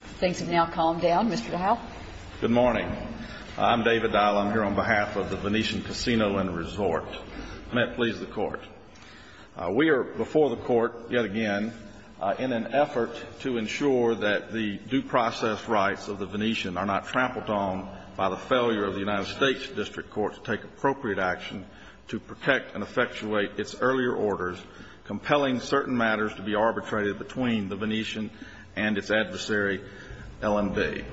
Things have now calmed down. Mr. Dow. Good morning. I'm David Dow. I'm here on behalf of the Venetian Casino and Resort. May it please the Court. We are before the Court yet again in an effort to ensure that the due process rights of the Venetian are not trampled on by the failure of the United States District Court to take appropriate action to protect and effectuate its earlier orders, compelling certain matters to be arbitrated between the Venetian and its adversary, LNB.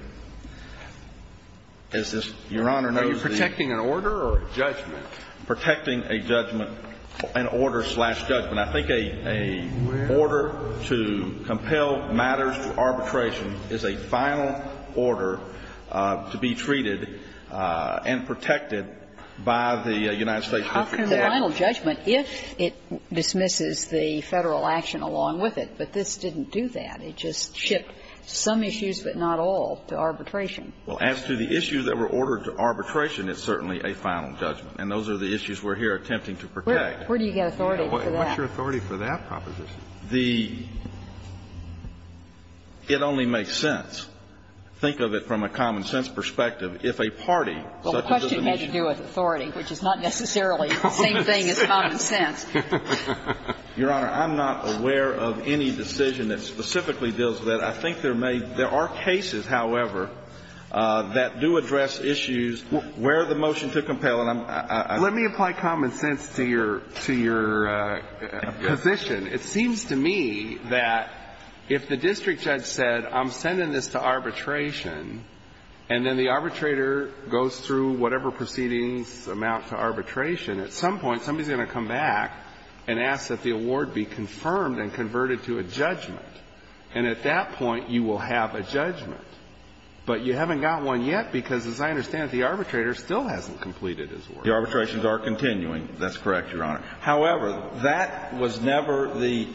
Is this Your Honor knows the Are you protecting an order or a judgment? Protecting a judgment, an order-slash-judgment. I think a order to compel matters to arbitration is a final order to be treated and protected by the United States District Court. The final judgment, if it dismisses the Federal action along with it, but this didn't do that. It just shipped some issues, but not all, to arbitration. Well, as to the issues that were ordered to arbitration, it's certainly a final judgment. And those are the issues we're here attempting to protect. Where do you get authority for that? What's your authority for that proposition? The It only makes sense, think of it from a common-sense perspective, if a party Well, the question had to do with authority, which is not necessarily the same thing as common sense. Your Honor, I'm not aware of any decision that specifically deals with that. I think there are cases, however, that do address issues where the motion to compel and I'm Let me apply common sense to your position. It seems to me that if the district judge said, I'm sending this to arbitration and then the arbitrator goes through whatever proceedings amount to arbitration, at some point, somebody's going to come back and ask that the award be confirmed and converted to a judgment. And at that point, you will have a judgment. But you haven't got one yet because, as I understand it, the arbitrator still hasn't completed his work. The arbitrations are continuing. That's correct, Your Honor. However, that was never the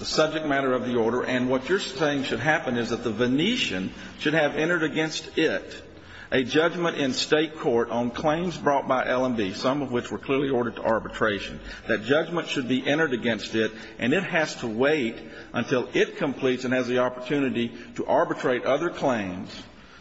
subject matter of the order. And what you're saying should happen is that the Venetian should have entered against it a judgment in state court on claims brought by LMB, some of which were clearly ordered to arbitration. That judgment should be entered against it and it has to wait until it completes and has the opportunity to arbitrate other claims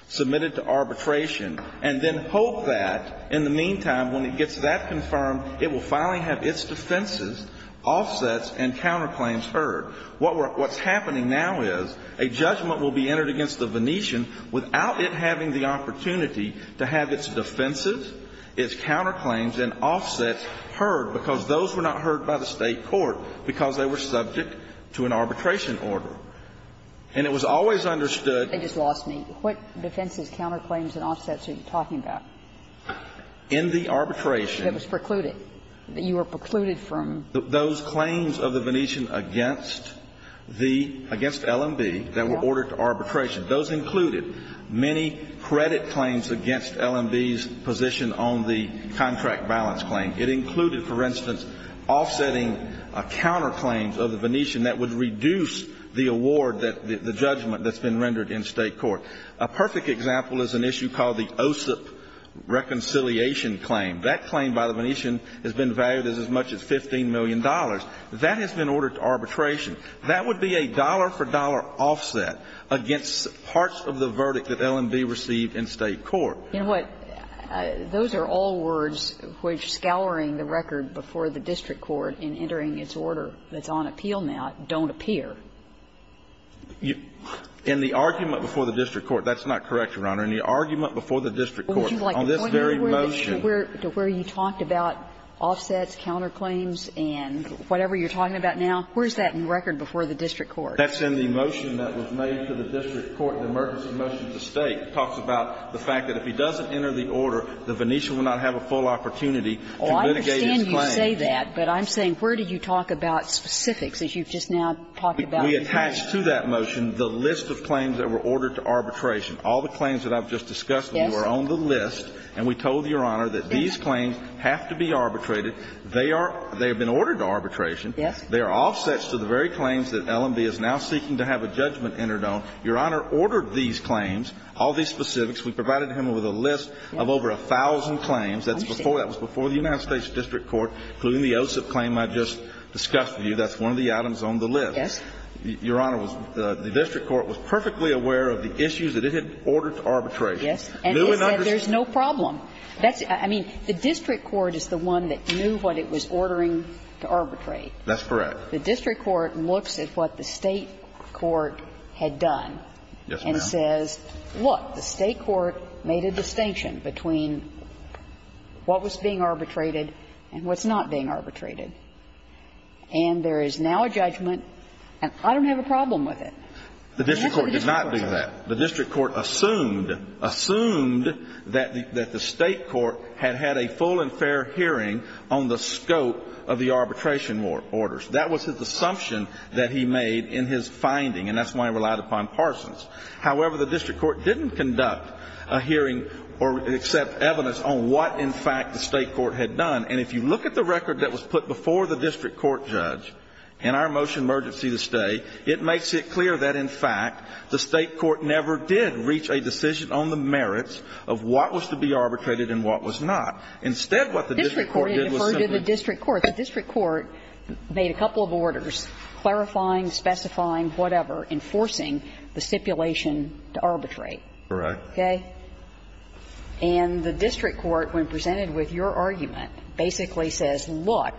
submitted to arbitration and then hope that, in the meantime, when it gets that confirmed, it will finally have its defenses, offsets and counterclaims heard. What's happening now is a judgment will be entered against the Venetian without it having the opportunity to have its defenses, its counterclaims and offsets heard because those were not heard by the state court because they were subject to an arbitration order. And it was always understood that those claims of the Venetian against the Venetian against LMB that were ordered to arbitration, those included many credit claims against LMB's position on the contract balance claim. It included, for instance, offsetting counterclaims of the Venetian that would reduce the award that the judgment that's been rendered in state court. A perfect example is an issue called the OSIP reconciliation claim. That claim by the Venetian has been valued as much as $15 million. That has been ordered to arbitration. That would be a dollar-for-dollar offset against parts of the verdict that LMB received in state court. You know what, those are all words which scouring the record before the district court in entering its order that's on appeal now don't appear. In the argument before the district court, that's not correct, Your Honor. In the argument before the district court on this very motion. Where you talked about offsets, counterclaims, and whatever you're talking about now, where's that in record before the district court? That's in the motion that was made to the district court, the emergency motion to State. It talks about the fact that if he doesn't enter the order, the Venetian will not have a full opportunity to litigate his claim. Oh, I understand you say that, but I'm saying where do you talk about specifics as you've just now talked about? We attach to that motion the list of claims that were ordered to arbitration. All the claims that I've just discussed to you are on the list. Yes. And we told Your Honor that these claims have to be arbitrated. They are – they have been ordered to arbitration. Yes. They are offsets to the very claims that LMB is now seeking to have a judgment entered on. Your Honor ordered these claims, all these specifics. We provided him with a list of over 1,000 claims. That's before – that was before the United States district court, including the OSIP claim I just discussed with you. That's one of the items on the list. Yes. Your Honor, the district court was perfectly aware of the issues that it had ordered to arbitration. And it said there's no problem. That's – I mean, the district court is the one that knew what it was ordering to arbitrate. That's correct. The district court looks at what the State court had done. Yes, ma'am. And says, look, the State court made a distinction between what was being arbitrated and what's not being arbitrated. And there is now a judgment, and I don't have a problem with it. The district court does not do that. The district court assumed that the State court had had a full and fair hearing on the scope of the arbitration orders. That was his assumption that he made in his finding, and that's why he relied upon Parsons. However, the district court didn't conduct a hearing or accept evidence on what, in fact, the State court had done. And if you look at the record that was put before the district court judge in our motion, emergency to stay, it makes it clear that, in fact, the State court never did reach a decision on the merits of what was to be arbitrated and what was not. Instead, what the district court did was simply the district court made a couple of orders clarifying, specifying, whatever, enforcing the stipulation to arbitrate. Correct. Okay? And the district court, when presented with your argument, basically says, look,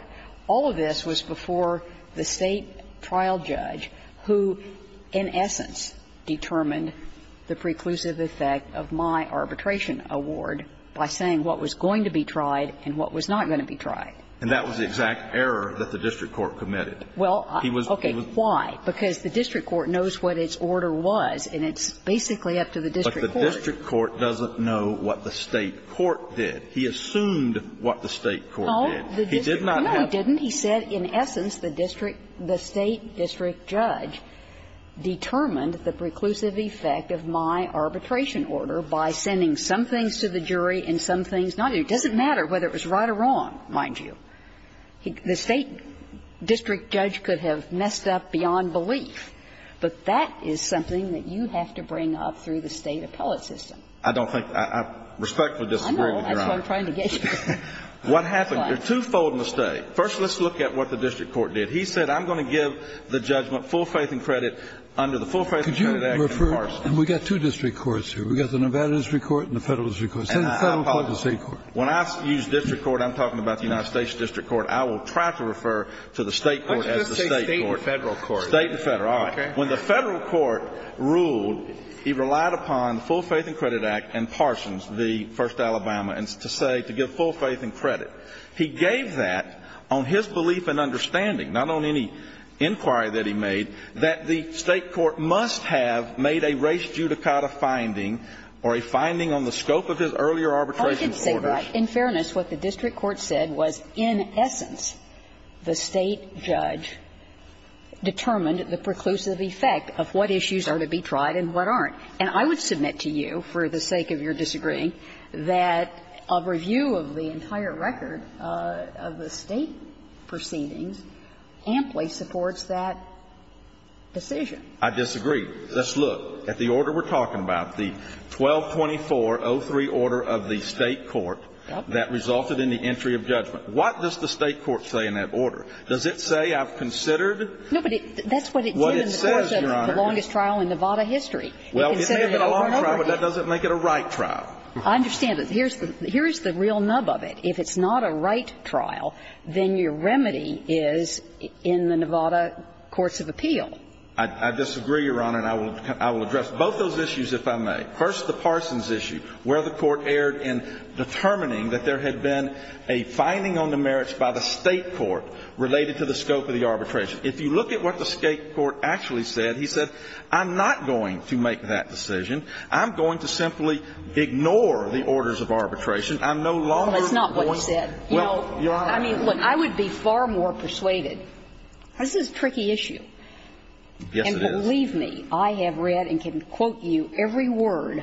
all of this was before the State trial judge, who, in essence, determined the preclusive effect of my arbitration award by saying what was going to be tried and what was not going to be tried. And that was the exact error that the district court committed. Well, okay. Why? Because the district court knows what its order was, and it's basically up to the district court. But the district court doesn't know what the State court did. He assumed what the State court did. He did not have to. No, he didn't. He said, in essence, the district --"the State district judge determined the preclusive effect of my arbitration order by sending some things to the jury and some things not to the jury." It doesn't matter whether it was right or wrong, mind you. The State district judge could have messed up beyond belief. But that is something that you have to bring up through the State appellate system. I don't think that I respectfully disagree with you, Your Honor. That's what I'm trying to get at. What happened? You're twofold in the State. First, let's look at what the district court did. He said, I'm going to give the judgment full faith and credit under the full faith and credit act in Parsons. Could you refer? And we've got two district courts here. We've got the Nevada district court and the Federal district court. Send the Federal court to the State court. When I use district court, I'm talking about the United States district court. I will try to refer to the State court as the State court. Why don't you just say State or Federal court? State and Federal. When the Federal court ruled, he relied upon the full faith and credit act in Parsons, v. First Alabama, to say, to give full faith and credit. He gave that on his belief and understanding, not on any inquiry that he made, that the State court must have made a res judicata finding or a finding on the scope of his earlier arbitration orders. I can say that, in fairness, what the district court said was, in essence, the State judge determined the preclusive effect of what issues are to be tried and what aren't. And I would submit to you, for the sake of your disagreeing, that a review of the entire record of the State proceedings amply supports that decision. I disagree. Let's look. At the order we're talking about, the 122403 order of the State court that resulted in the entry of judgment. What does the State court say in that order? Does it say I've considered what it says, Your Honor? No, but that's what it did in the course of the longest trial in Nevada history. Well, it may have been a long trial, but that doesn't make it a right trial. I understand, but here's the real nub of it. If it's not a right trial, then your remedy is in the Nevada courts of appeal. I disagree, Your Honor, and I will address both those issues, if I may. First, the Parsons issue, where the court erred in determining that there had been a finding on the merits by the State court related to the scope of the arbitration. If you look at what the State court actually said, he said, I'm not going to make that decision. I'm going to simply ignore the orders of arbitration. I'm no longer going to. Well, that's not what he said. Well, Your Honor. I mean, look, I would be far more persuaded. This is a tricky issue. Yes, it is. And believe me, I have read and can quote you every word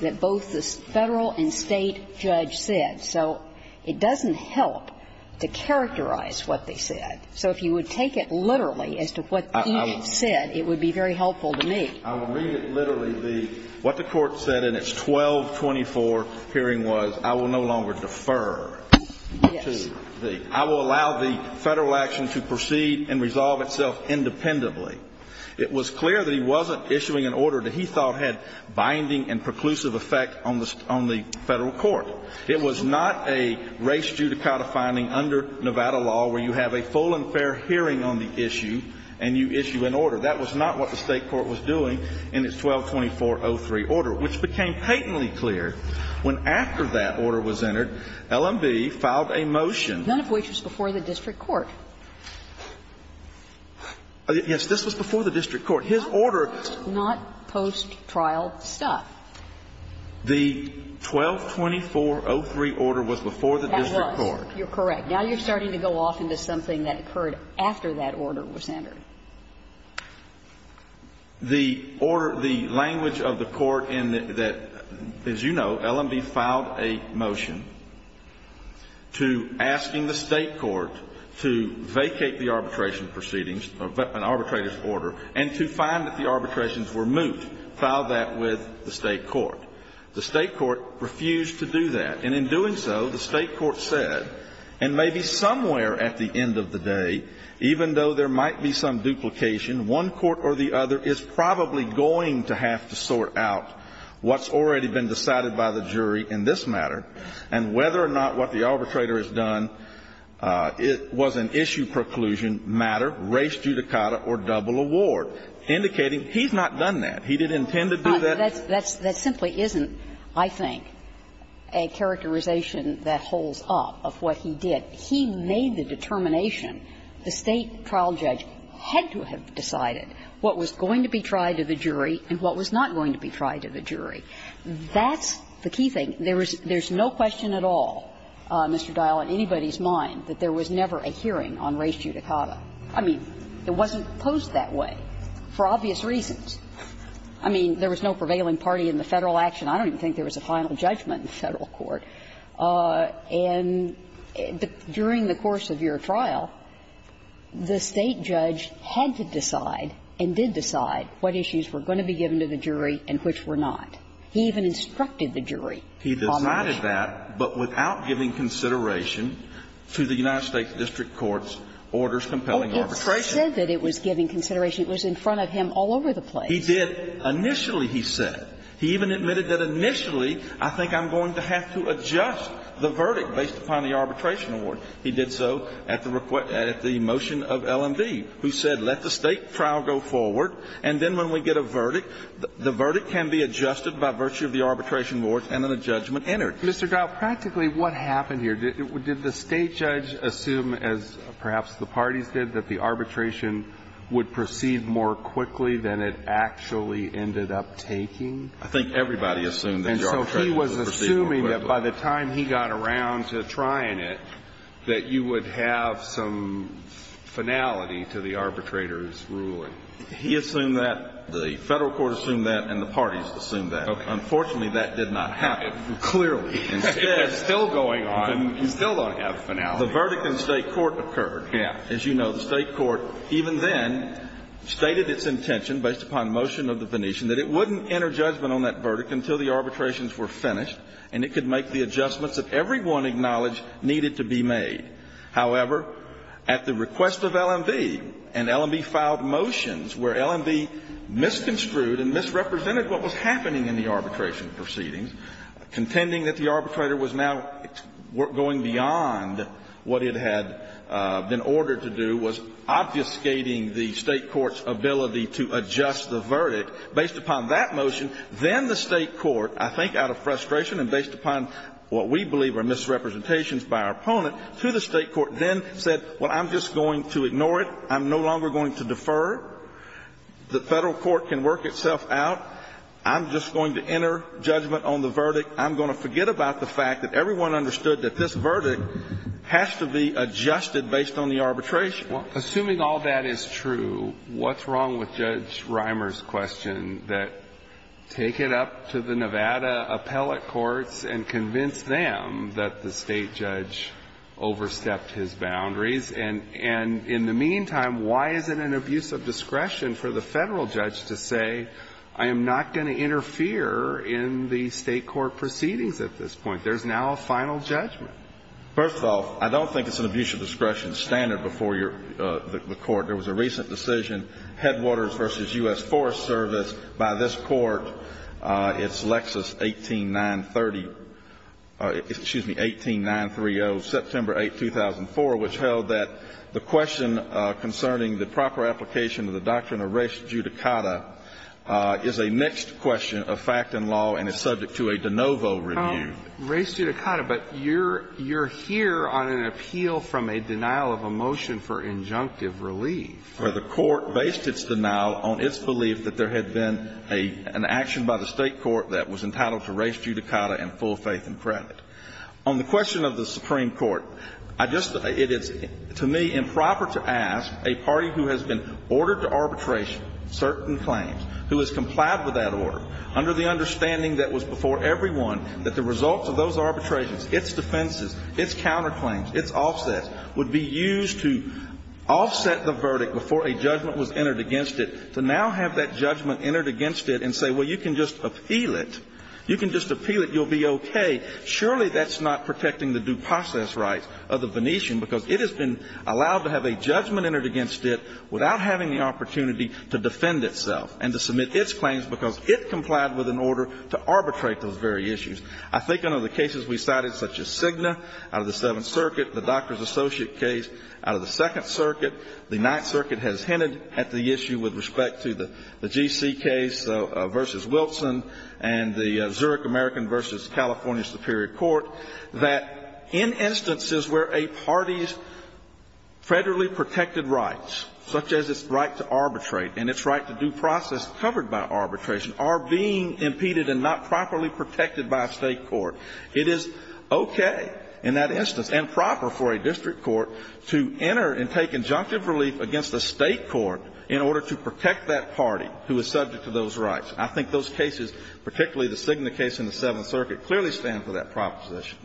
that both the Federal and State judge said, so it doesn't help to characterize what they said. So if you would take it literally as to what he said, it would be very helpful to me. I will read it literally. What the Court said in its 1224 hearing was, I will no longer defer to the, I will allow the Federal action to proceed and resolve itself independently. It was clear that he wasn't issuing an order that he thought had binding and preclusive effect on the Federal court. It was not a race judicata finding under Nevada law where you have a full and fair hearing on the issue and you issue an order. That was not what the State court was doing in its 122403 order, which became patently clear when after that order was entered, LMB filed a motion. None of which was before the district court. Yes, this was before the district court. His order. Not post-trial stuff. The 122403 order was before the district court. That was. You're correct. Now you're starting to go off into something that occurred after that order was entered. The order, the language of the court in that, as you know, LMB filed a motion to asking the State court to vacate the arbitration proceedings, an arbitrator's and to find that the arbitrations were moot, file that with the State court. The State court refused to do that. And in doing so, the State court said, and maybe somewhere at the end of the day, even though there might be some duplication, one court or the other is probably going to have to sort out what's already been decided by the jury in this matter and whether or not what the arbitrator has done was an issue preclusion matter, race judicata, or double award, indicating he's not done that. He didn't intend to do that. That simply isn't, I think, a characterization that holds up of what he did. He made the determination. The State trial judge had to have decided what was going to be tried to the jury and what was not going to be tried to the jury. That's the key thing. There's no question at all, Mr. Dial, in anybody's mind that there was never a hearing on race judicata. I mean, it wasn't posed that way for obvious reasons. I mean, there was no prevailing party in the Federal action. I don't even think there was a final judgment in the Federal court. And during the course of your trial, the State judge had to decide and did decide what issues were going to be given to the jury and which were not. He even instructed the jury on that. He decided that, but without giving consideration to the United States district court's orders compelling arbitration. But he said that it was giving consideration. It was in front of him all over the place. He did initially, he said. He even admitted that initially, I think I'm going to have to adjust the verdict based upon the arbitration award. He did so at the motion of LMB, who said let the State trial go forward, and then when we get a verdict, the verdict can be adjusted by virtue of the arbitration award and then a judgment entered. Mr. Dial, practically what happened here? Did the State judge assume, as perhaps the parties did, that the arbitration would proceed more quickly than it actually ended up taking? I think everybody assumed that the arbitration would proceed more quickly. And so he was assuming that by the time he got around to trying it, that you would have some finality to the arbitrator's ruling. He assumed that, the Federal court assumed that, and the parties assumed that. Unfortunately, that did not happen. Clearly. It's still going on. You still don't have finality. The verdict in the State court occurred. As you know, the State court, even then, stated its intention based upon motion of the Venetian that it wouldn't enter judgment on that verdict until the arbitrations were finished and it could make the adjustments that everyone acknowledged needed to be made. However, at the request of LMB, and LMB filed motions where LMB misconstrued and misrepresented what was happening in the arbitration proceedings, contending that the arbitrator was now going beyond what it had been ordered to do, was obfuscating the State court's ability to adjust the verdict based upon that motion. Then the State court, I think out of frustration and based upon what we believe are misrepresentations by our opponent, to the State court then said, well, I'm just going to ignore it. I'm no longer going to defer. The Federal court can work itself out. I'm just going to enter judgment on the verdict. I'm going to forget about the fact that everyone understood that this verdict has to be adjusted based on the arbitration. Well, assuming all that is true, what's wrong with Judge Reimer's question that take it up to the Nevada appellate courts and convince them that the State judge overstepped his boundaries, and in the meantime, why is it an abuse of discretion for the Federal judge to say, I am not going to interfere in the State court proceedings at this point? There's now a final judgment. First off, I don't think it's an abuse of discretion standard before the Court. There was a recent decision, Headwaters v. U.S. Forest Service, by this Court. It's Lexis 18930 – excuse me, 18930, September 8, 2004, which held that the question concerning the proper application of the doctrine of res judicata is a mixed question of fact and law and is subject to a de novo review. Res judicata, but you're here on an appeal from a denial of a motion for injunctive relief. The Court based its denial on its belief that there had been an action by the State court that was entitled to res judicata and full faith and credit. On the question of the Supreme Court, I just – it is, to me, improper to ask a party who has been ordered to arbitration certain claims, who has complied with that order, under the understanding that was before everyone, that the results of those arbitrations, its defenses, its counterclaims, its offsets, would be used to offset the verdict before a judgment was entered against it, to now have that judgment entered against it and say, well, you can just appeal it, you can just appeal it, you'll be okay. Surely that's not protecting the due process rights of the Venetian, because it has been allowed to have a judgment entered against it without having the opportunity to defend itself and to submit its claims because it complied with an order to arbitrate those very issues. I think, under the cases we cited, such as Cigna out of the Seventh Circuit, the Doctors Associate case out of the Second Circuit, the Ninth Circuit has hinted at the issue with respect to the GC case v. Wilson and the Zurich American v. California Superior Court, that in instances where a party's federally protected rights, such as its right to arbitrate and its right to due process covered by arbitration, are being impeded and not properly protected by a State court, it is okay in that instance, and proper for a district court, to enter and take injunctive relief against a State court in order to protect that party who is subject to those rights. And I think those cases, particularly the Cigna case in the Seventh Circuit, clearly stand for that proposition.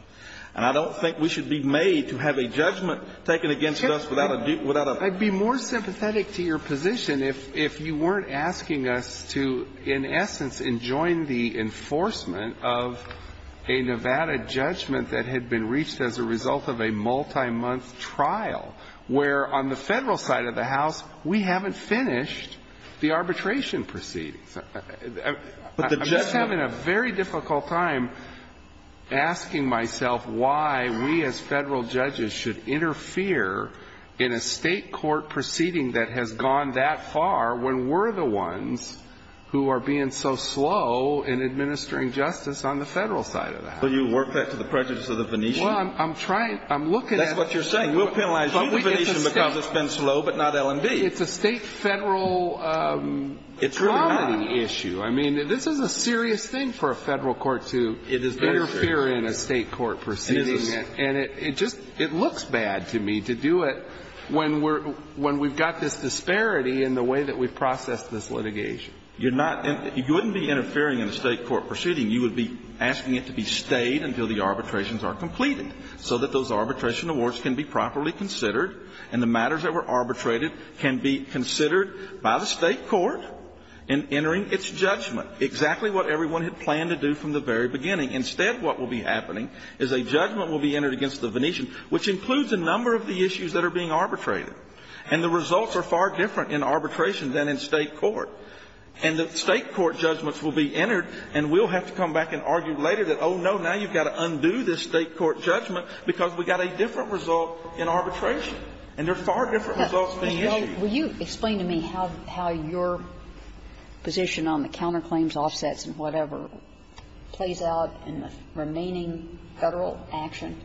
And I don't think we should be made to have a judgment taken against us without a due process. I'd be more sympathetic to your position if you weren't asking us to, in essence, enjoin the enforcement of a Nevada judgment that had been reached as a result of a multi-month trial, where on the Federal side of the House, we haven't finished the arbitration proceedings. I'm just having a very difficult time asking myself why we as Federal judges should interfere in a State court proceeding that has gone that far when we're the ones who are being so slow in administering justice on the Federal side of the House. So you work that to the prejudice of the Venetian? Well, I'm trying. That's what you're saying. We'll penalize you, Venetian, because it's been slow, but not L&D. It's a State-Federal comity issue. I mean, this is a serious thing for a Federal court to interfere in a State court proceeding. And it just looks bad to me to do it when we've got this disparity in the way that we've processed this litigation. You're not – you wouldn't be interfering in a State court proceeding. You would be asking it to be stayed until the arbitrations are completed so that those arbitration awards can be properly considered and the matters that were arbitrated can be considered by the State court in entering its judgment, exactly what everyone had planned to do from the very beginning. Instead, what will be happening is a judgment will be entered against the Venetian, which includes a number of the issues that are being arbitrated. And the results are far different in arbitration than in State court. And the State court judgments will be entered, and we'll have to come back and argue later that, oh, no, now you've got to undo this State court judgment because we've got a different result in arbitration. And there are far different results than the issue. Will you explain to me how your position on the counterclaims, offsets and whatever plays out in the remaining Federal action?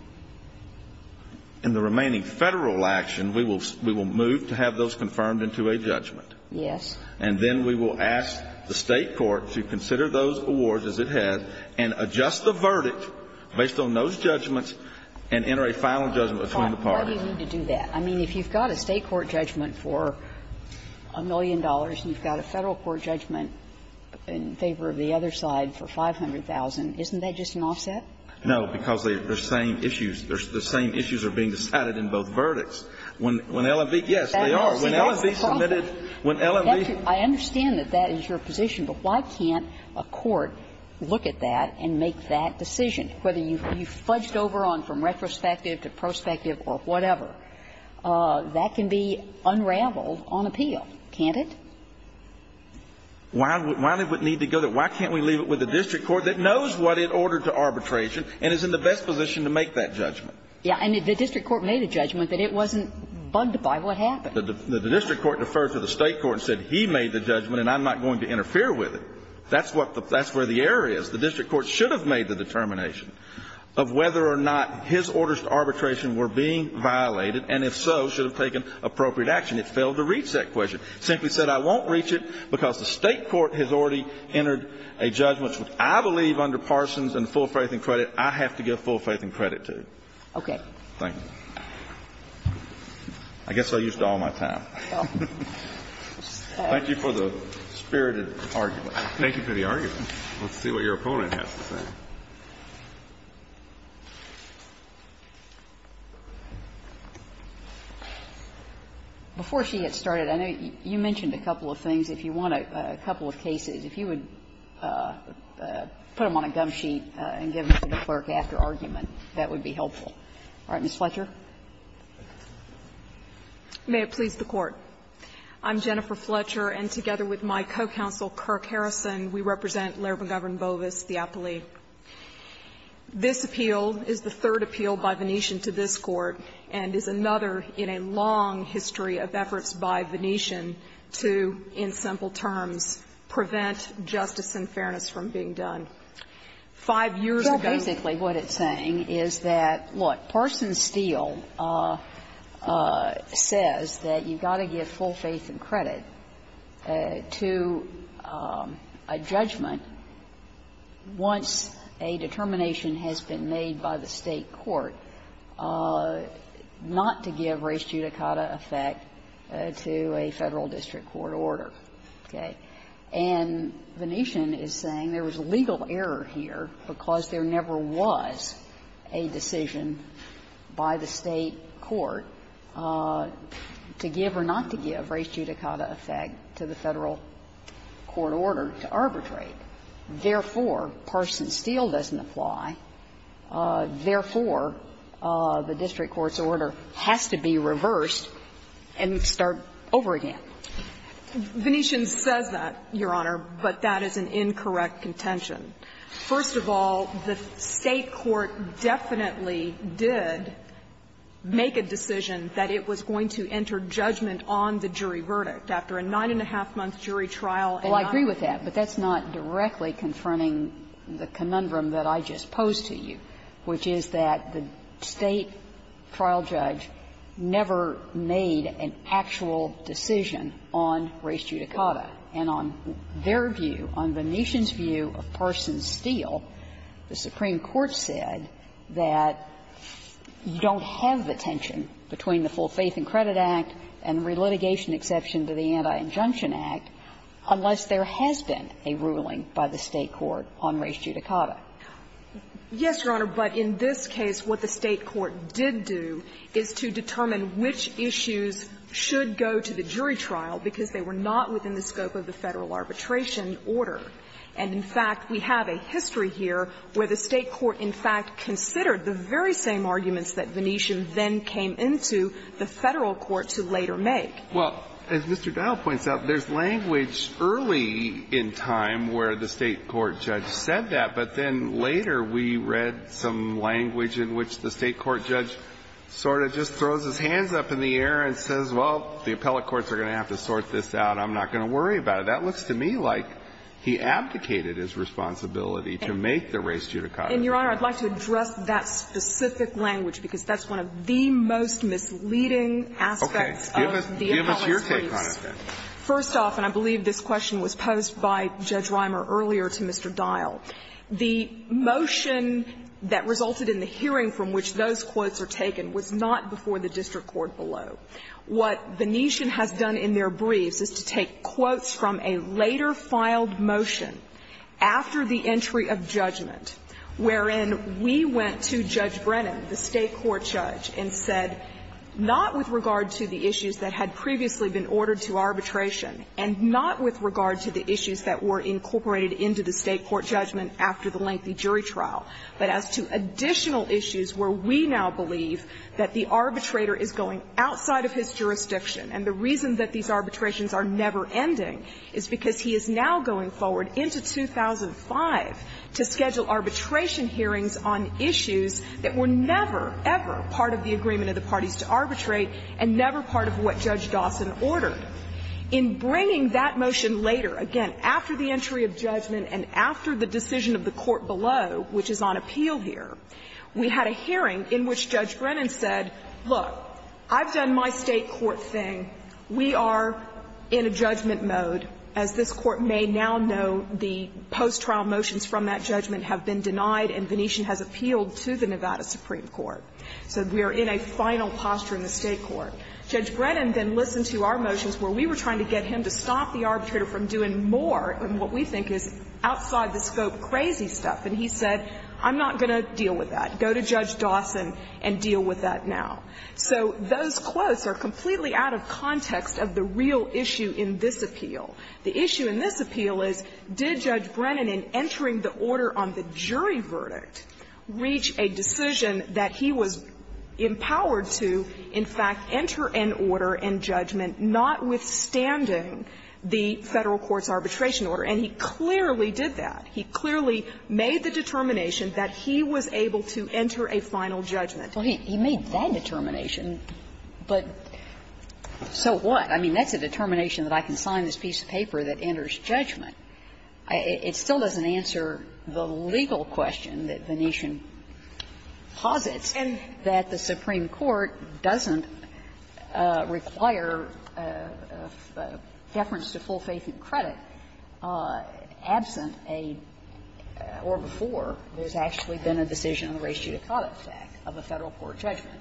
In the remaining Federal action, we will move to have those confirmed into a judgment. Yes. And then we will ask the State court to consider those awards, as it has, and adjust the verdict based on those judgments and enter a final judgment between the parties. Why do you need to do that? I mean, if you've got a State court judgment for a million dollars and you've got a Federal court judgment in favor of the other side for 500,000, isn't that just an offset? No, because they're the same issues. The same issues are being decided in both verdicts. When LMV – yes, they are. When LMV submitted – when LMV – I understand that that is your position, but why can't a court look at that and make that decision? Whether you've fudged over on from retrospective to prospective or whatever, that can be unraveled on appeal, can't it? Why would we need to go there? Why can't we leave it with a district court that knows what it ordered to arbitration and is in the best position to make that judgment? Yes. And the district court made a judgment that it wasn't bugged by what happened. The district court deferred to the State court and said he made the judgment and I'm not going to interfere with it. That's what the – that's where the error is. The district court should have made the determination of whether or not his orders to arbitration were being violated, and if so, should have taken appropriate action. It failed to reach that question. It simply said I won't reach it because the State court has already entered a judgment which I believe under Parsons and full faith and credit, I have to give full faith and credit to. Okay. Thank you. I guess I used all my time. Thank you for the spirited argument. Thank you for the argument. Let's see what your opponent has to say. Before she gets started, I know you mentioned a couple of things. If you want a couple of cases, if you would put them on a gum sheet and give them to the clerk after argument, that would be helpful. All right, Ms. Fletcher. May it please the Court. I'm Jennifer Fletcher, and together with my co-counsel, Kirk Harrison, we represent Laird McGovern Bovis, the appellee. This appeal is the third appeal by Venetian to this Court and is another in a long history of efforts by Venetian to, in simple terms, prevent justice and fairness from being done. Five years ago – So the first thing I have to say is that, look, Parsons Steele says that you've got to give full faith and credit to a judgment once a determination has been made by the State court not to give res judicata effect to a Federal district court order. Okay? And Venetian is saying there was legal error here because there never was a decision by the State court to give or not to give res judicata effect to the Federal court order to arbitrate. Therefore, Parsons Steele doesn't apply. Therefore, the district court's order has to be reversed and start over again. Venetian says that, Your Honor, but that is an incorrect contention. First of all, the State court definitely did make a decision that it was going to enter judgment on the jury verdict after a nine-and-a-half-month jury trial. And I agree with that, but that's not directly confronting the conundrum that I just posed to you, which is that the State trial judge never made an actual decision on res judicata. And on their view, on Venetian's view of Parsons Steele, the Supreme Court said that you don't have the tension between the full faith and credit act and the relitigation exception to the Anti-Injunction Act unless there has been a ruling by the State court on res judicata. Yes, Your Honor, but in this case, what the State court did do is to determine which issues should go to the jury trial because they were not within the scope of the Federal arbitration order. And, in fact, we have a history here where the State court, in fact, considered the very same arguments that Venetian then came into the Federal court to later make. Well, as Mr. Dial points out, there's language early in time where the State court judge said that, but then later we read some language in which the State court judge sort of just throws his hands up in the air and says, well, the appellate courts are going to have to sort this out, I'm not going to worry about it. That looks to me like he abdicated his responsibility to make the res judicata. And, Your Honor, I'd like to address that specific language because that's one of the most misleading aspects of the appellate's case. Okay. Give us your take on it, then. First off, and I believe this question was posed by Judge Rimer earlier to Mr. Dial, the motion that resulted in the hearing from which those quotes are taken was not before the district court below. What Venetian has done in their briefs is to take quotes from a later filed motion after the entry of judgment wherein we went to Judge Brennan, the State court judge, and said, not with regard to the issues that had previously been ordered to arbitration and not with regard to the issues that were incorporated into the State court judgment after the lengthy jury trial, but as to additional issues where we now believe that the arbitrator is going outside of his jurisdiction. And the reason that these arbitrations are never ending is because he is now going forward into 2005 to schedule arbitration hearings on issues that were never, ever part of the agreement of the parties to arbitrate and never part of what Judge Dawson ordered. In bringing that motion later, again, after the entry of judgment and after the decision of the court below, which is on appeal here, we had a hearing in which Judge Brennan said, look, I've done my State court thing. We are in a judgment mode. As this Court may now know, the post-trial motions from that judgment have been denied and Venetian has appealed to the Nevada Supreme Court. So we are in a final posture in the State court. Judge Brennan then listened to our motions where we were trying to get him to stop the arbitrator from doing more in what we think is outside-the-scope crazy stuff, and he said, I'm not going to deal with that. Go to Judge Dawson and deal with that now. So those quotes are completely out of context of the real issue in this appeal. The issue in this appeal is, did Judge Brennan, in entering the order on the jury verdict, reach a decision that he was empowered to, in fact, enter an order in judgment notwithstanding the Federal court's arbitration order, and he clearly did that. He clearly made the determination that he was able to enter a final judgment. Well, he made that determination, but so what? I mean, that's a determination that I can sign this piece of paper that enters judgment. It still doesn't answer the legal question that Venetian posits, that the Supreme Court doesn't require a deference to full faith and credit absent a or before there's actually been a decision in the race judicata effect of a Federal court judgment.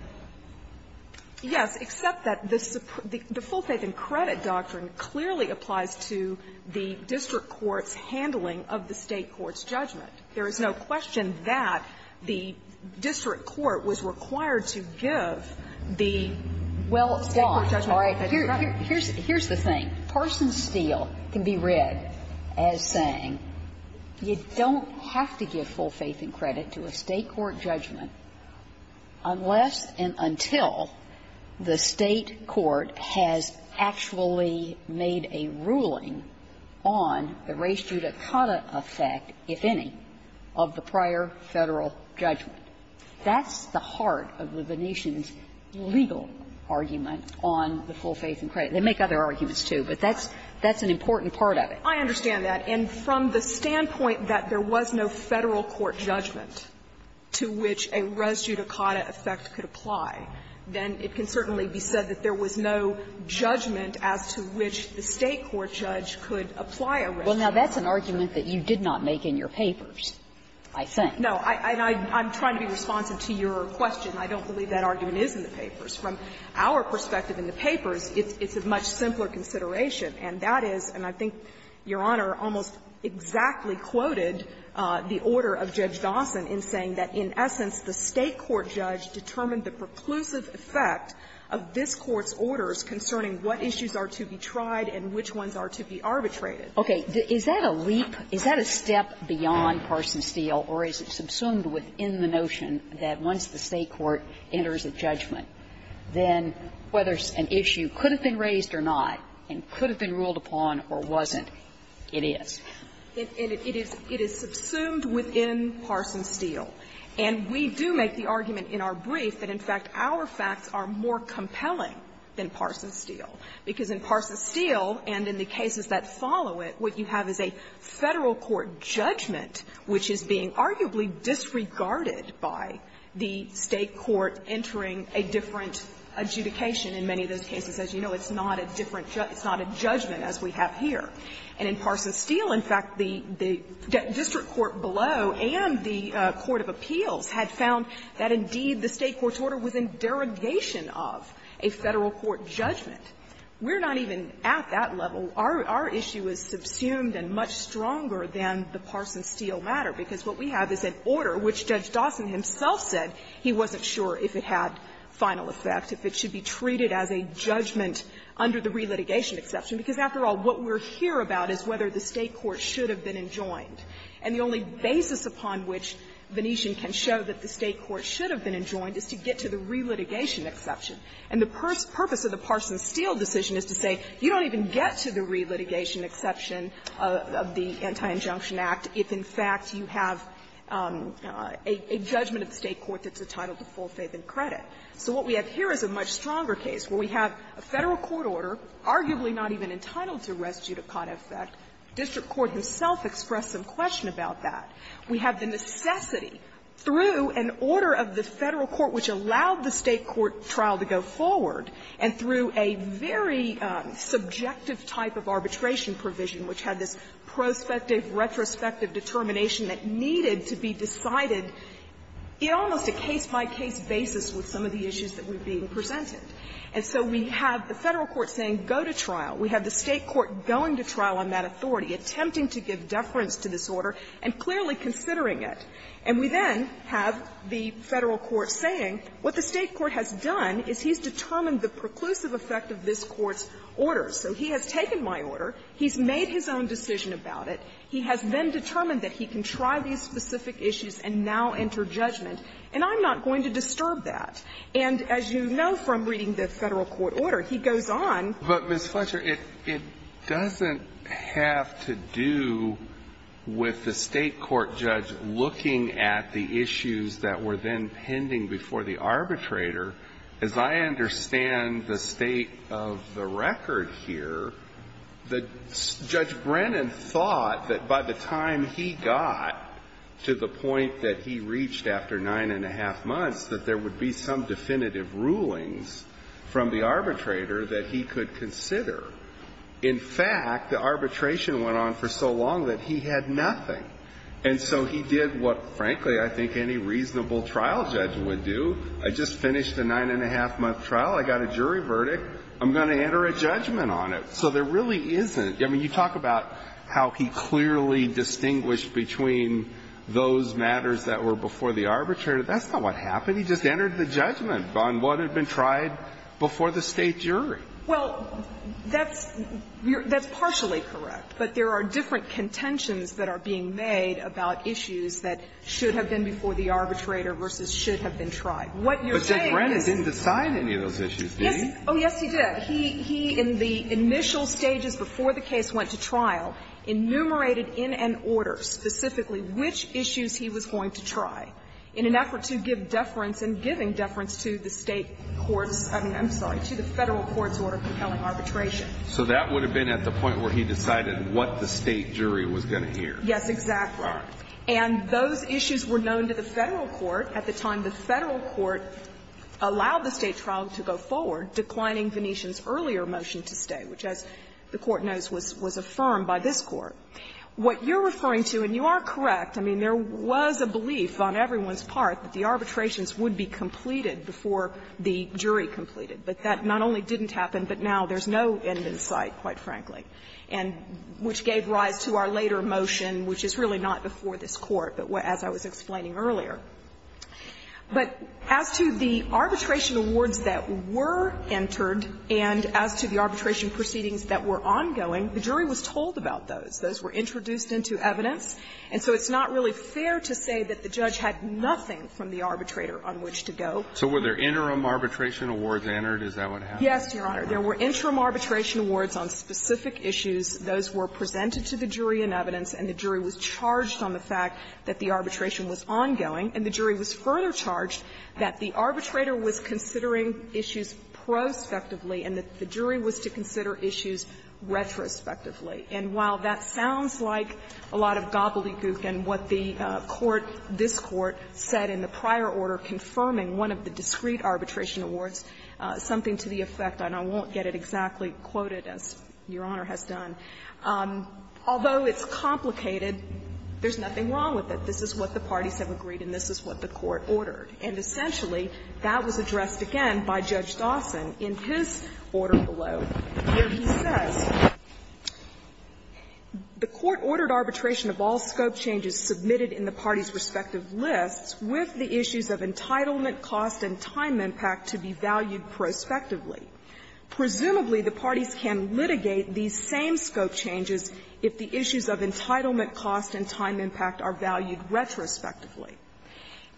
Yes, except that the full faith and credit doctrine clearly applies to the district court's handling of the State court's judgment. There is no question that the district court was required to give the State court judgment. Well, here's the thing. Parsons Steele can be read as saying, you don't have to give full faith and credit to a State court judgment unless and until the State court has actually made a ruling on the race judicata effect, if any, of the prior Federal judgment. That's the heart of the Venetian's legal argument on the full faith and credit. They make other arguments, too, but that's an important part of it. I understand that. And from the standpoint that there was no Federal court judgment to which a race judicata effect could apply, then it can certainly be said that there was no judgment as to which the State court judge could apply a race judicata effect. Well, now, that's an argument that you did not make in your papers, I think. No. I'm trying to be responsive to your question. I don't believe that argument is in the papers. From our perspective in the papers, it's a much simpler consideration, and that is, and I think Your Honor almost exactly quoted the order of Judge Dawson in saying that, in essence, the State court judge determined the preclusive effect of this Court's orders concerning what issues are to be tried and which ones are to be arbitrated. Okay. Is that a leap? Is that a step beyond Parsons Steel, or is it subsumed within the notion that once the State court enters a judgment, then whether an issue could have been raised or not and could have been ruled upon or wasn't, it is? It is subsumed within Parsons Steel. And we do make the argument in our brief that, in fact, our facts are more compelling than Parsons Steel, because in Parsons Steel and in the cases that follow it, what you have is a Federal court judgment which is being arguably disregarded by the State court entering a different adjudication. And in many of those cases, as you know, it's not a judgment as we have here. And in Parsons Steel, in fact, the district court below and the court of appeals had found that, indeed, the State court's order was in derogation of a Federal court judgment. We're not even at that level. Our issue is subsumed and much stronger than the Parsons Steel matter, because what we have is an order which Judge Dawson himself said he wasn't sure if it had a final effect, if it should be treated as a judgment under the relitigation exception, because, after all, what we're here about is whether the State court should have been enjoined. And the only basis upon which Venetian can show that the State court should have been enjoined is to get to the relitigation exception. And the purpose of the Parsons Steel decision is to say, you don't even get to the relitigation exception of the Anti-Injunction Act if, in fact, you have a judgment of the State court that's entitled to full faith and credit. So what we have here is a much stronger case where we have a Federal court order, arguably not even entitled to rest due to con effect. District court himself expressed some question about that. We have the necessity, through an order of the Federal court which allowed the State court trial to go forward, and through a very subjective type of arbitration provision which had this prospective, retrospective determination that needed to be decided in almost a case-by-case basis with some of the issues that were being presented. And so we have the Federal court saying, go to trial. We have the State court going to trial on that authority, attempting to give deference to this order, and clearly considering it. And we then have the Federal court saying, what the State court has done is he's determined the preclusive effect of this court's order. So he has taken my order. He's made his own decision about it. He has then determined that he can try these specific issues and now enter judgment. And I'm not going to disturb that. And as you know from reading the Federal court order, he goes on. Alito, but, Ms. Fletcher, it doesn't have to do with the State court judge looking at the issues that were then pending before the arbitrator. As I understand the state of the record here, Judge Brennan thought that by the time he got to the point that he reached after nine and a half months, that there would be some definitive rulings from the arbitrator that he could consider. In fact, the arbitration went on for so long that he had nothing. And so he did what, frankly, I think any reasonable trial judge would do. I just finished a nine and a half month trial. I got a jury verdict. I'm going to enter a judgment on it. So there really isn't. I mean, you talk about how he clearly distinguished between those matters that were before the arbitrator. That's not what happened. He just entered the judgment on what had been tried before the State jury. Well, that's partially correct, but there are different contentions that are being made about issues that should have been before the arbitrator versus should have been tried. What you're saying is But Judge Brennan didn't decide any of those issues, did he? Oh, yes, he did. He, in the initial stages before the case went to trial, enumerated in an order specifically which issues he was going to try in an effort to give deference and giving deference to the State court's, I mean, I'm sorry, to the Federal court's order compelling arbitration. So that would have been at the point where he decided what the State jury was going to hear. Yes, exactly. Right. And those issues were known to the Federal court at the time the Federal court allowed the State trial to go forward, declining Venetian's earlier motion to stay, which, as the Court knows, was affirmed by this Court. What you're referring to, and you are correct, I mean, there was a belief on everyone's part that the arbitrations would be completed before the jury completed. But that not only didn't happen, but now there's no end in sight, quite frankly, and which gave rise to our later motion, which is really not before this Court, but as I was explaining earlier. But as to the arbitration awards that were entered and as to the arbitration proceedings that were ongoing, the jury was told about those. Those were introduced into evidence. And so it's not really fair to say that the judge had nothing from the arbitrator on which to go. So were there interim arbitration awards entered? Is that what happened? Yes, Your Honor. There were interim arbitration awards on specific issues. Those were presented to the jury in evidence, and the jury was charged on the fact that the arbitration was ongoing. And the jury was further charged that the arbitrator was considering issues prospectively and that the jury was to consider issues retrospectively. And while that sounds like a lot of gobbledygook and what the Court, this Court, said in the prior order confirming one of the discrete arbitration awards, something to the effect, and I won't get it exactly quoted as Your Honor has done, although it's complicated, there's nothing wrong with it. This is what the parties have agreed and this is what the Court ordered. And essentially, that was addressed again by Judge Dawson in his order below, where he says, the Court ordered arbitration of all scope changes submitted in the parties' respective lists with the issues of entitlement cost and time impact to be valued prospectively. Presumably, the parties can litigate these same scope changes if the issues of entitlement cost and time impact are valued retrospectively.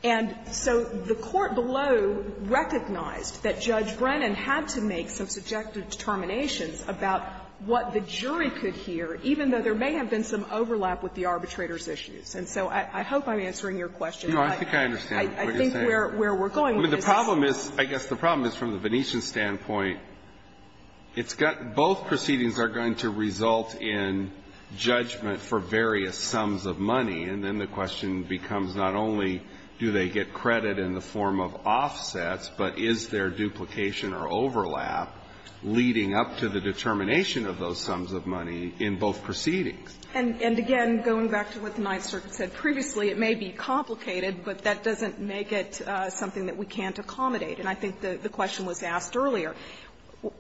And so the Court below recognized that Judge Brennan had to make some subjective determinations about what the jury could hear, even though there may have been some overlap with the arbitrator's issues. And so I hope I'm answering your question. But I think where we're going with this is the problem is, I guess, the problem is, from the Venetian standpoint, it's got to be, both proceedings are going to result in judgment for various sums of money, and then the question becomes not only do they get credit in the form of offsets, but is there duplication or overlap leading up to the determination of those sums of money in both proceedings? And again, going back to what the Ninth Circuit said previously, it may be complicated, but that doesn't make it something that we can't accommodate. And I think the question was asked earlier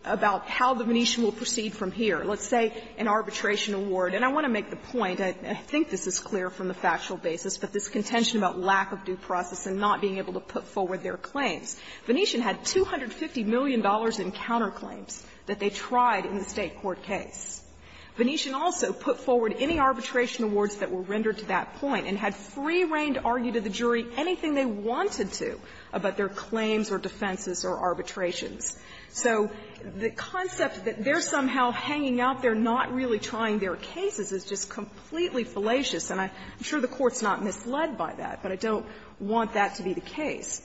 about how the Venetian will proceed from here. Let's say an arbitration award, and I want to make the point, I think this is clear from the factual basis, but this contention about lack of due process and not being able to put forward their claims. Venetian had $250 million in counterclaims that they tried in the State court case. Venetian also put forward any arbitration awards that were rendered to that point and had free reign to argue to the jury anything they wanted to about their claims or defenses or arbitrations. So the concept that they're somehow hanging out there not really trying their cases is just completely fallacious, and I'm sure the Court's not misled by that, but I don't want that to be the case.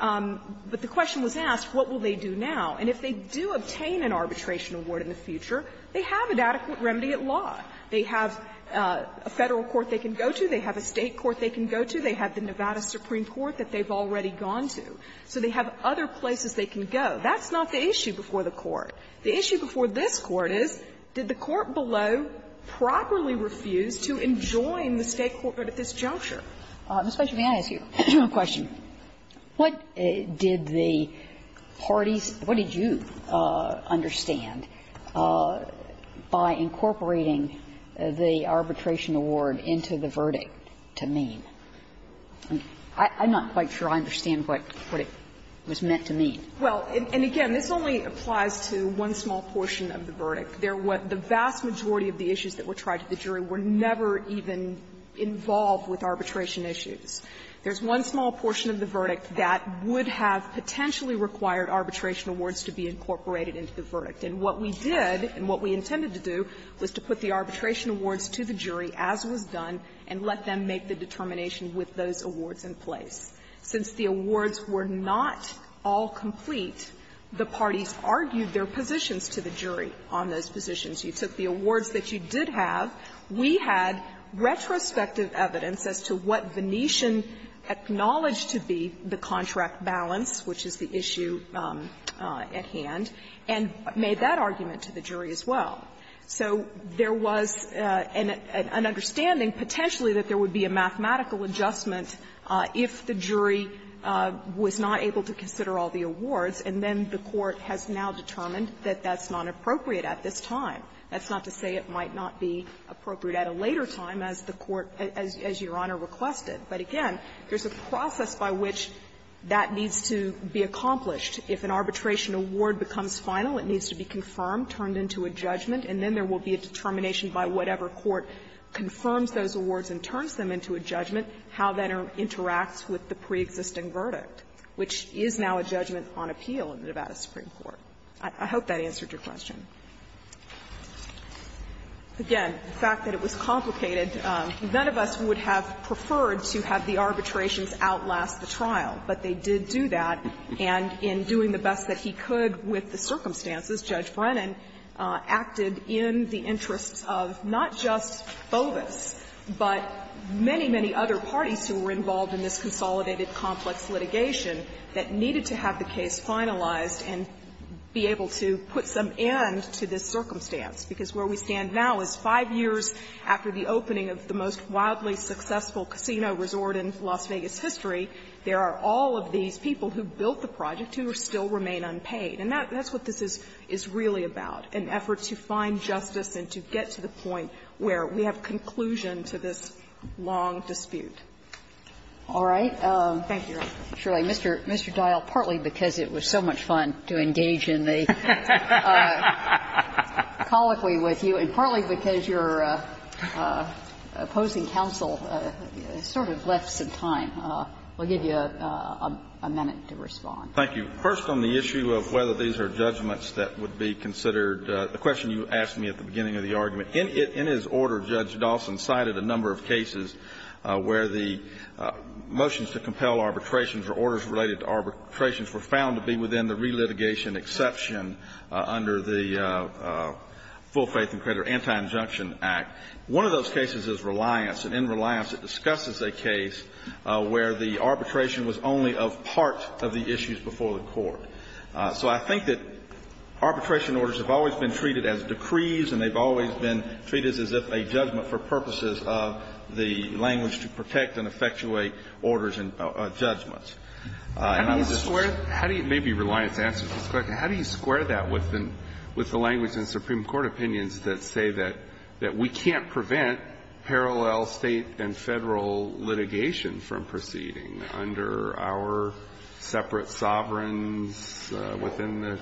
But the question was asked, what will they do now? And if they do obtain an arbitration award in the future, they have an adequate remedy at law. They have a Federal court they can go to. They have a State court they can go to. They have the Nevada Supreme Court that they've already gone to. So they have other places they can go. That's not the issue before the Court. The issue before this Court is, did the court below properly refuse to enjoin the State court at this juncture? Kagan. Kagan. Ms. Bishop, may I ask you a question? What did the parties – what did you understand by incorporating the arbitration award into the verdict to mean? I'm not quite sure I understand what it was meant to mean. Bishop. Well, and again, this only applies to one small portion of the verdict. There were – the vast majority of the issues that were tried to the jury were never even involved with arbitration issues. There's one small portion of the verdict that would have potentially required arbitration awards to be incorporated into the verdict. And what we did and what we intended to do was to put the arbitration awards to the jury on those positions. You took the awards that you did have. We had retrospective evidence as to what Venetian acknowledged to be the contract balance, which is the issue at hand, and made that argument to the jury as well. So there was an understanding, potentially, that there would be a mathematical argument to the jury as well. And then there's a process by which that needs to be accomplished. If an arbitration award becomes final, it needs to be confirmed, turned into a judgment, and then there will be a determination by whatever court confirms those awards all the awards. And then there's a process by which that needs to be accomplished, turned into a judgment, by whatever court confirms those awards. And then there's a determination by which the jury will determine how Venner interacts with the preexisting verdict, which is now a judgment on appeal in the Nevada Supreme Court. I hope that answered your question. Again, the fact that it was complicated, none of us would have preferred to have the arbitrations outlast the trial, but they did do that. And in doing the best that he could with the circumstances, Judge Brennan acted in the interests of not just Bovis, but many, many other parties who were involved in this consolidated, complex litigation that needed to have the case finalized and be able to put some end to this circumstance, because where we stand now is five years after the opening of the most wildly successful casino resort in Las Vegas history, there are all of these people who built the project who still remain unpaid. And that's what this is really about, an effort to find justice and to get to the point where we have conclusion to this long dispute. All right. Ms. Sherry, Mr. Dyle, partly because it was so much fun to engage in the colloquy with you, and partly because your opposing counsel sort of left some time, we'll give you a minute to respond. Thank you. First, on the issue of whether these are judgments that would be considered, the question you asked me at the beginning of the argument, in his order, Judge Dawson cited a number of cases where the motions to compel arbitration or orders related to arbitration were found to be within the relitigation exception under the full faith and credit or anti-injunction act. One of those cases is Reliance, and in Reliance it discusses a case where the arbitration was only of part of the issues before the court. So I think that arbitration orders have always been treated as decrees and they've been used in judgment for purposes of the language to protect and effectuate orders and judgments. And I was just wondering. How do you – maybe Reliance answers this question. How do you square that with the language in the Supreme Court opinions that say that we can't prevent parallel State and Federal litigation from proceeding under our separate sovereigns within the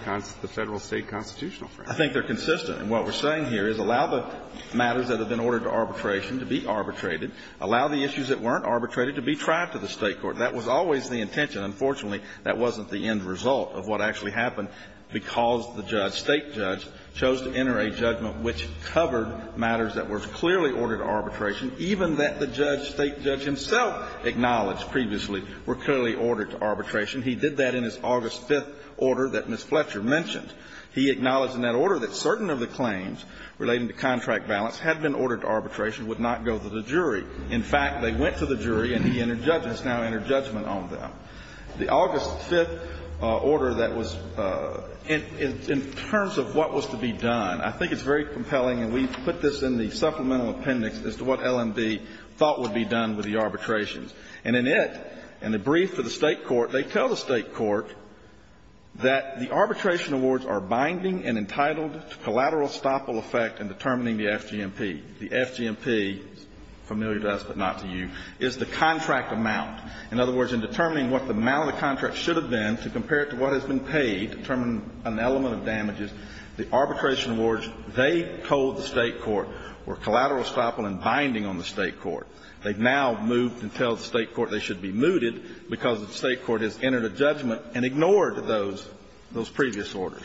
Federal-State constitutional framework? I think they're consistent. And what we're saying here is allow the matters that have been ordered to arbitration to be arbitrated. Allow the issues that weren't arbitrated to be tried to the State court. That was always the intention. Unfortunately, that wasn't the end result of what actually happened because the judge, State judge, chose to enter a judgment which covered matters that were clearly ordered to arbitration, even that the judge, State judge himself, acknowledged previously were clearly ordered to arbitration. He did that in his August 5th order that Ms. Fletcher mentioned. He acknowledged in that order that certain of the claims relating to contract balance had been ordered to arbitration, would not go to the jury. In fact, they went to the jury and he and her judges now enter judgment on them. The August 5th order that was – in terms of what was to be done, I think it's very compelling, and we put this in the supplemental appendix as to what L&D thought would be done with the arbitrations. And in it, in the brief to the State court, they tell the State court that the arbitration awards are binding and entitled to collateral estoppel effect in determining the FGMP. The FGMP, familiar to us but not to you, is the contract amount. In other words, in determining what the amount of the contract should have been to compare it to what has been paid, determine an element of damages, the arbitration awards, they told the State court, were collateral estoppel and binding on the State court. They've now moved and tell the State court they should be mooted because the State court has entered a judgment and ignored those – those previous orders.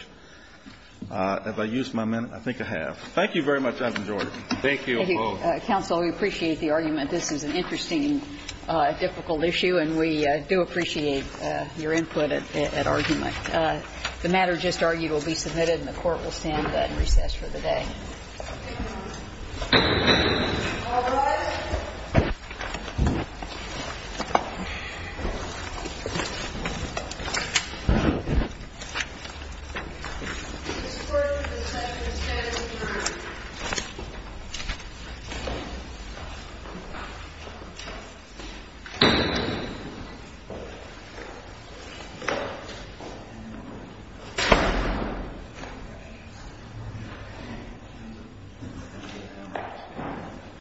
Have I used my minute? I think I have. Thank you very much. I've enjoyed it. Thank you. Counsel, we appreciate the argument. This is an interesting, difficult issue, and we do appreciate your input at argument. The matter just argued will be submitted and the Court will stand recess for the day. All rise. This court will decide for the status of the jury. Thank you.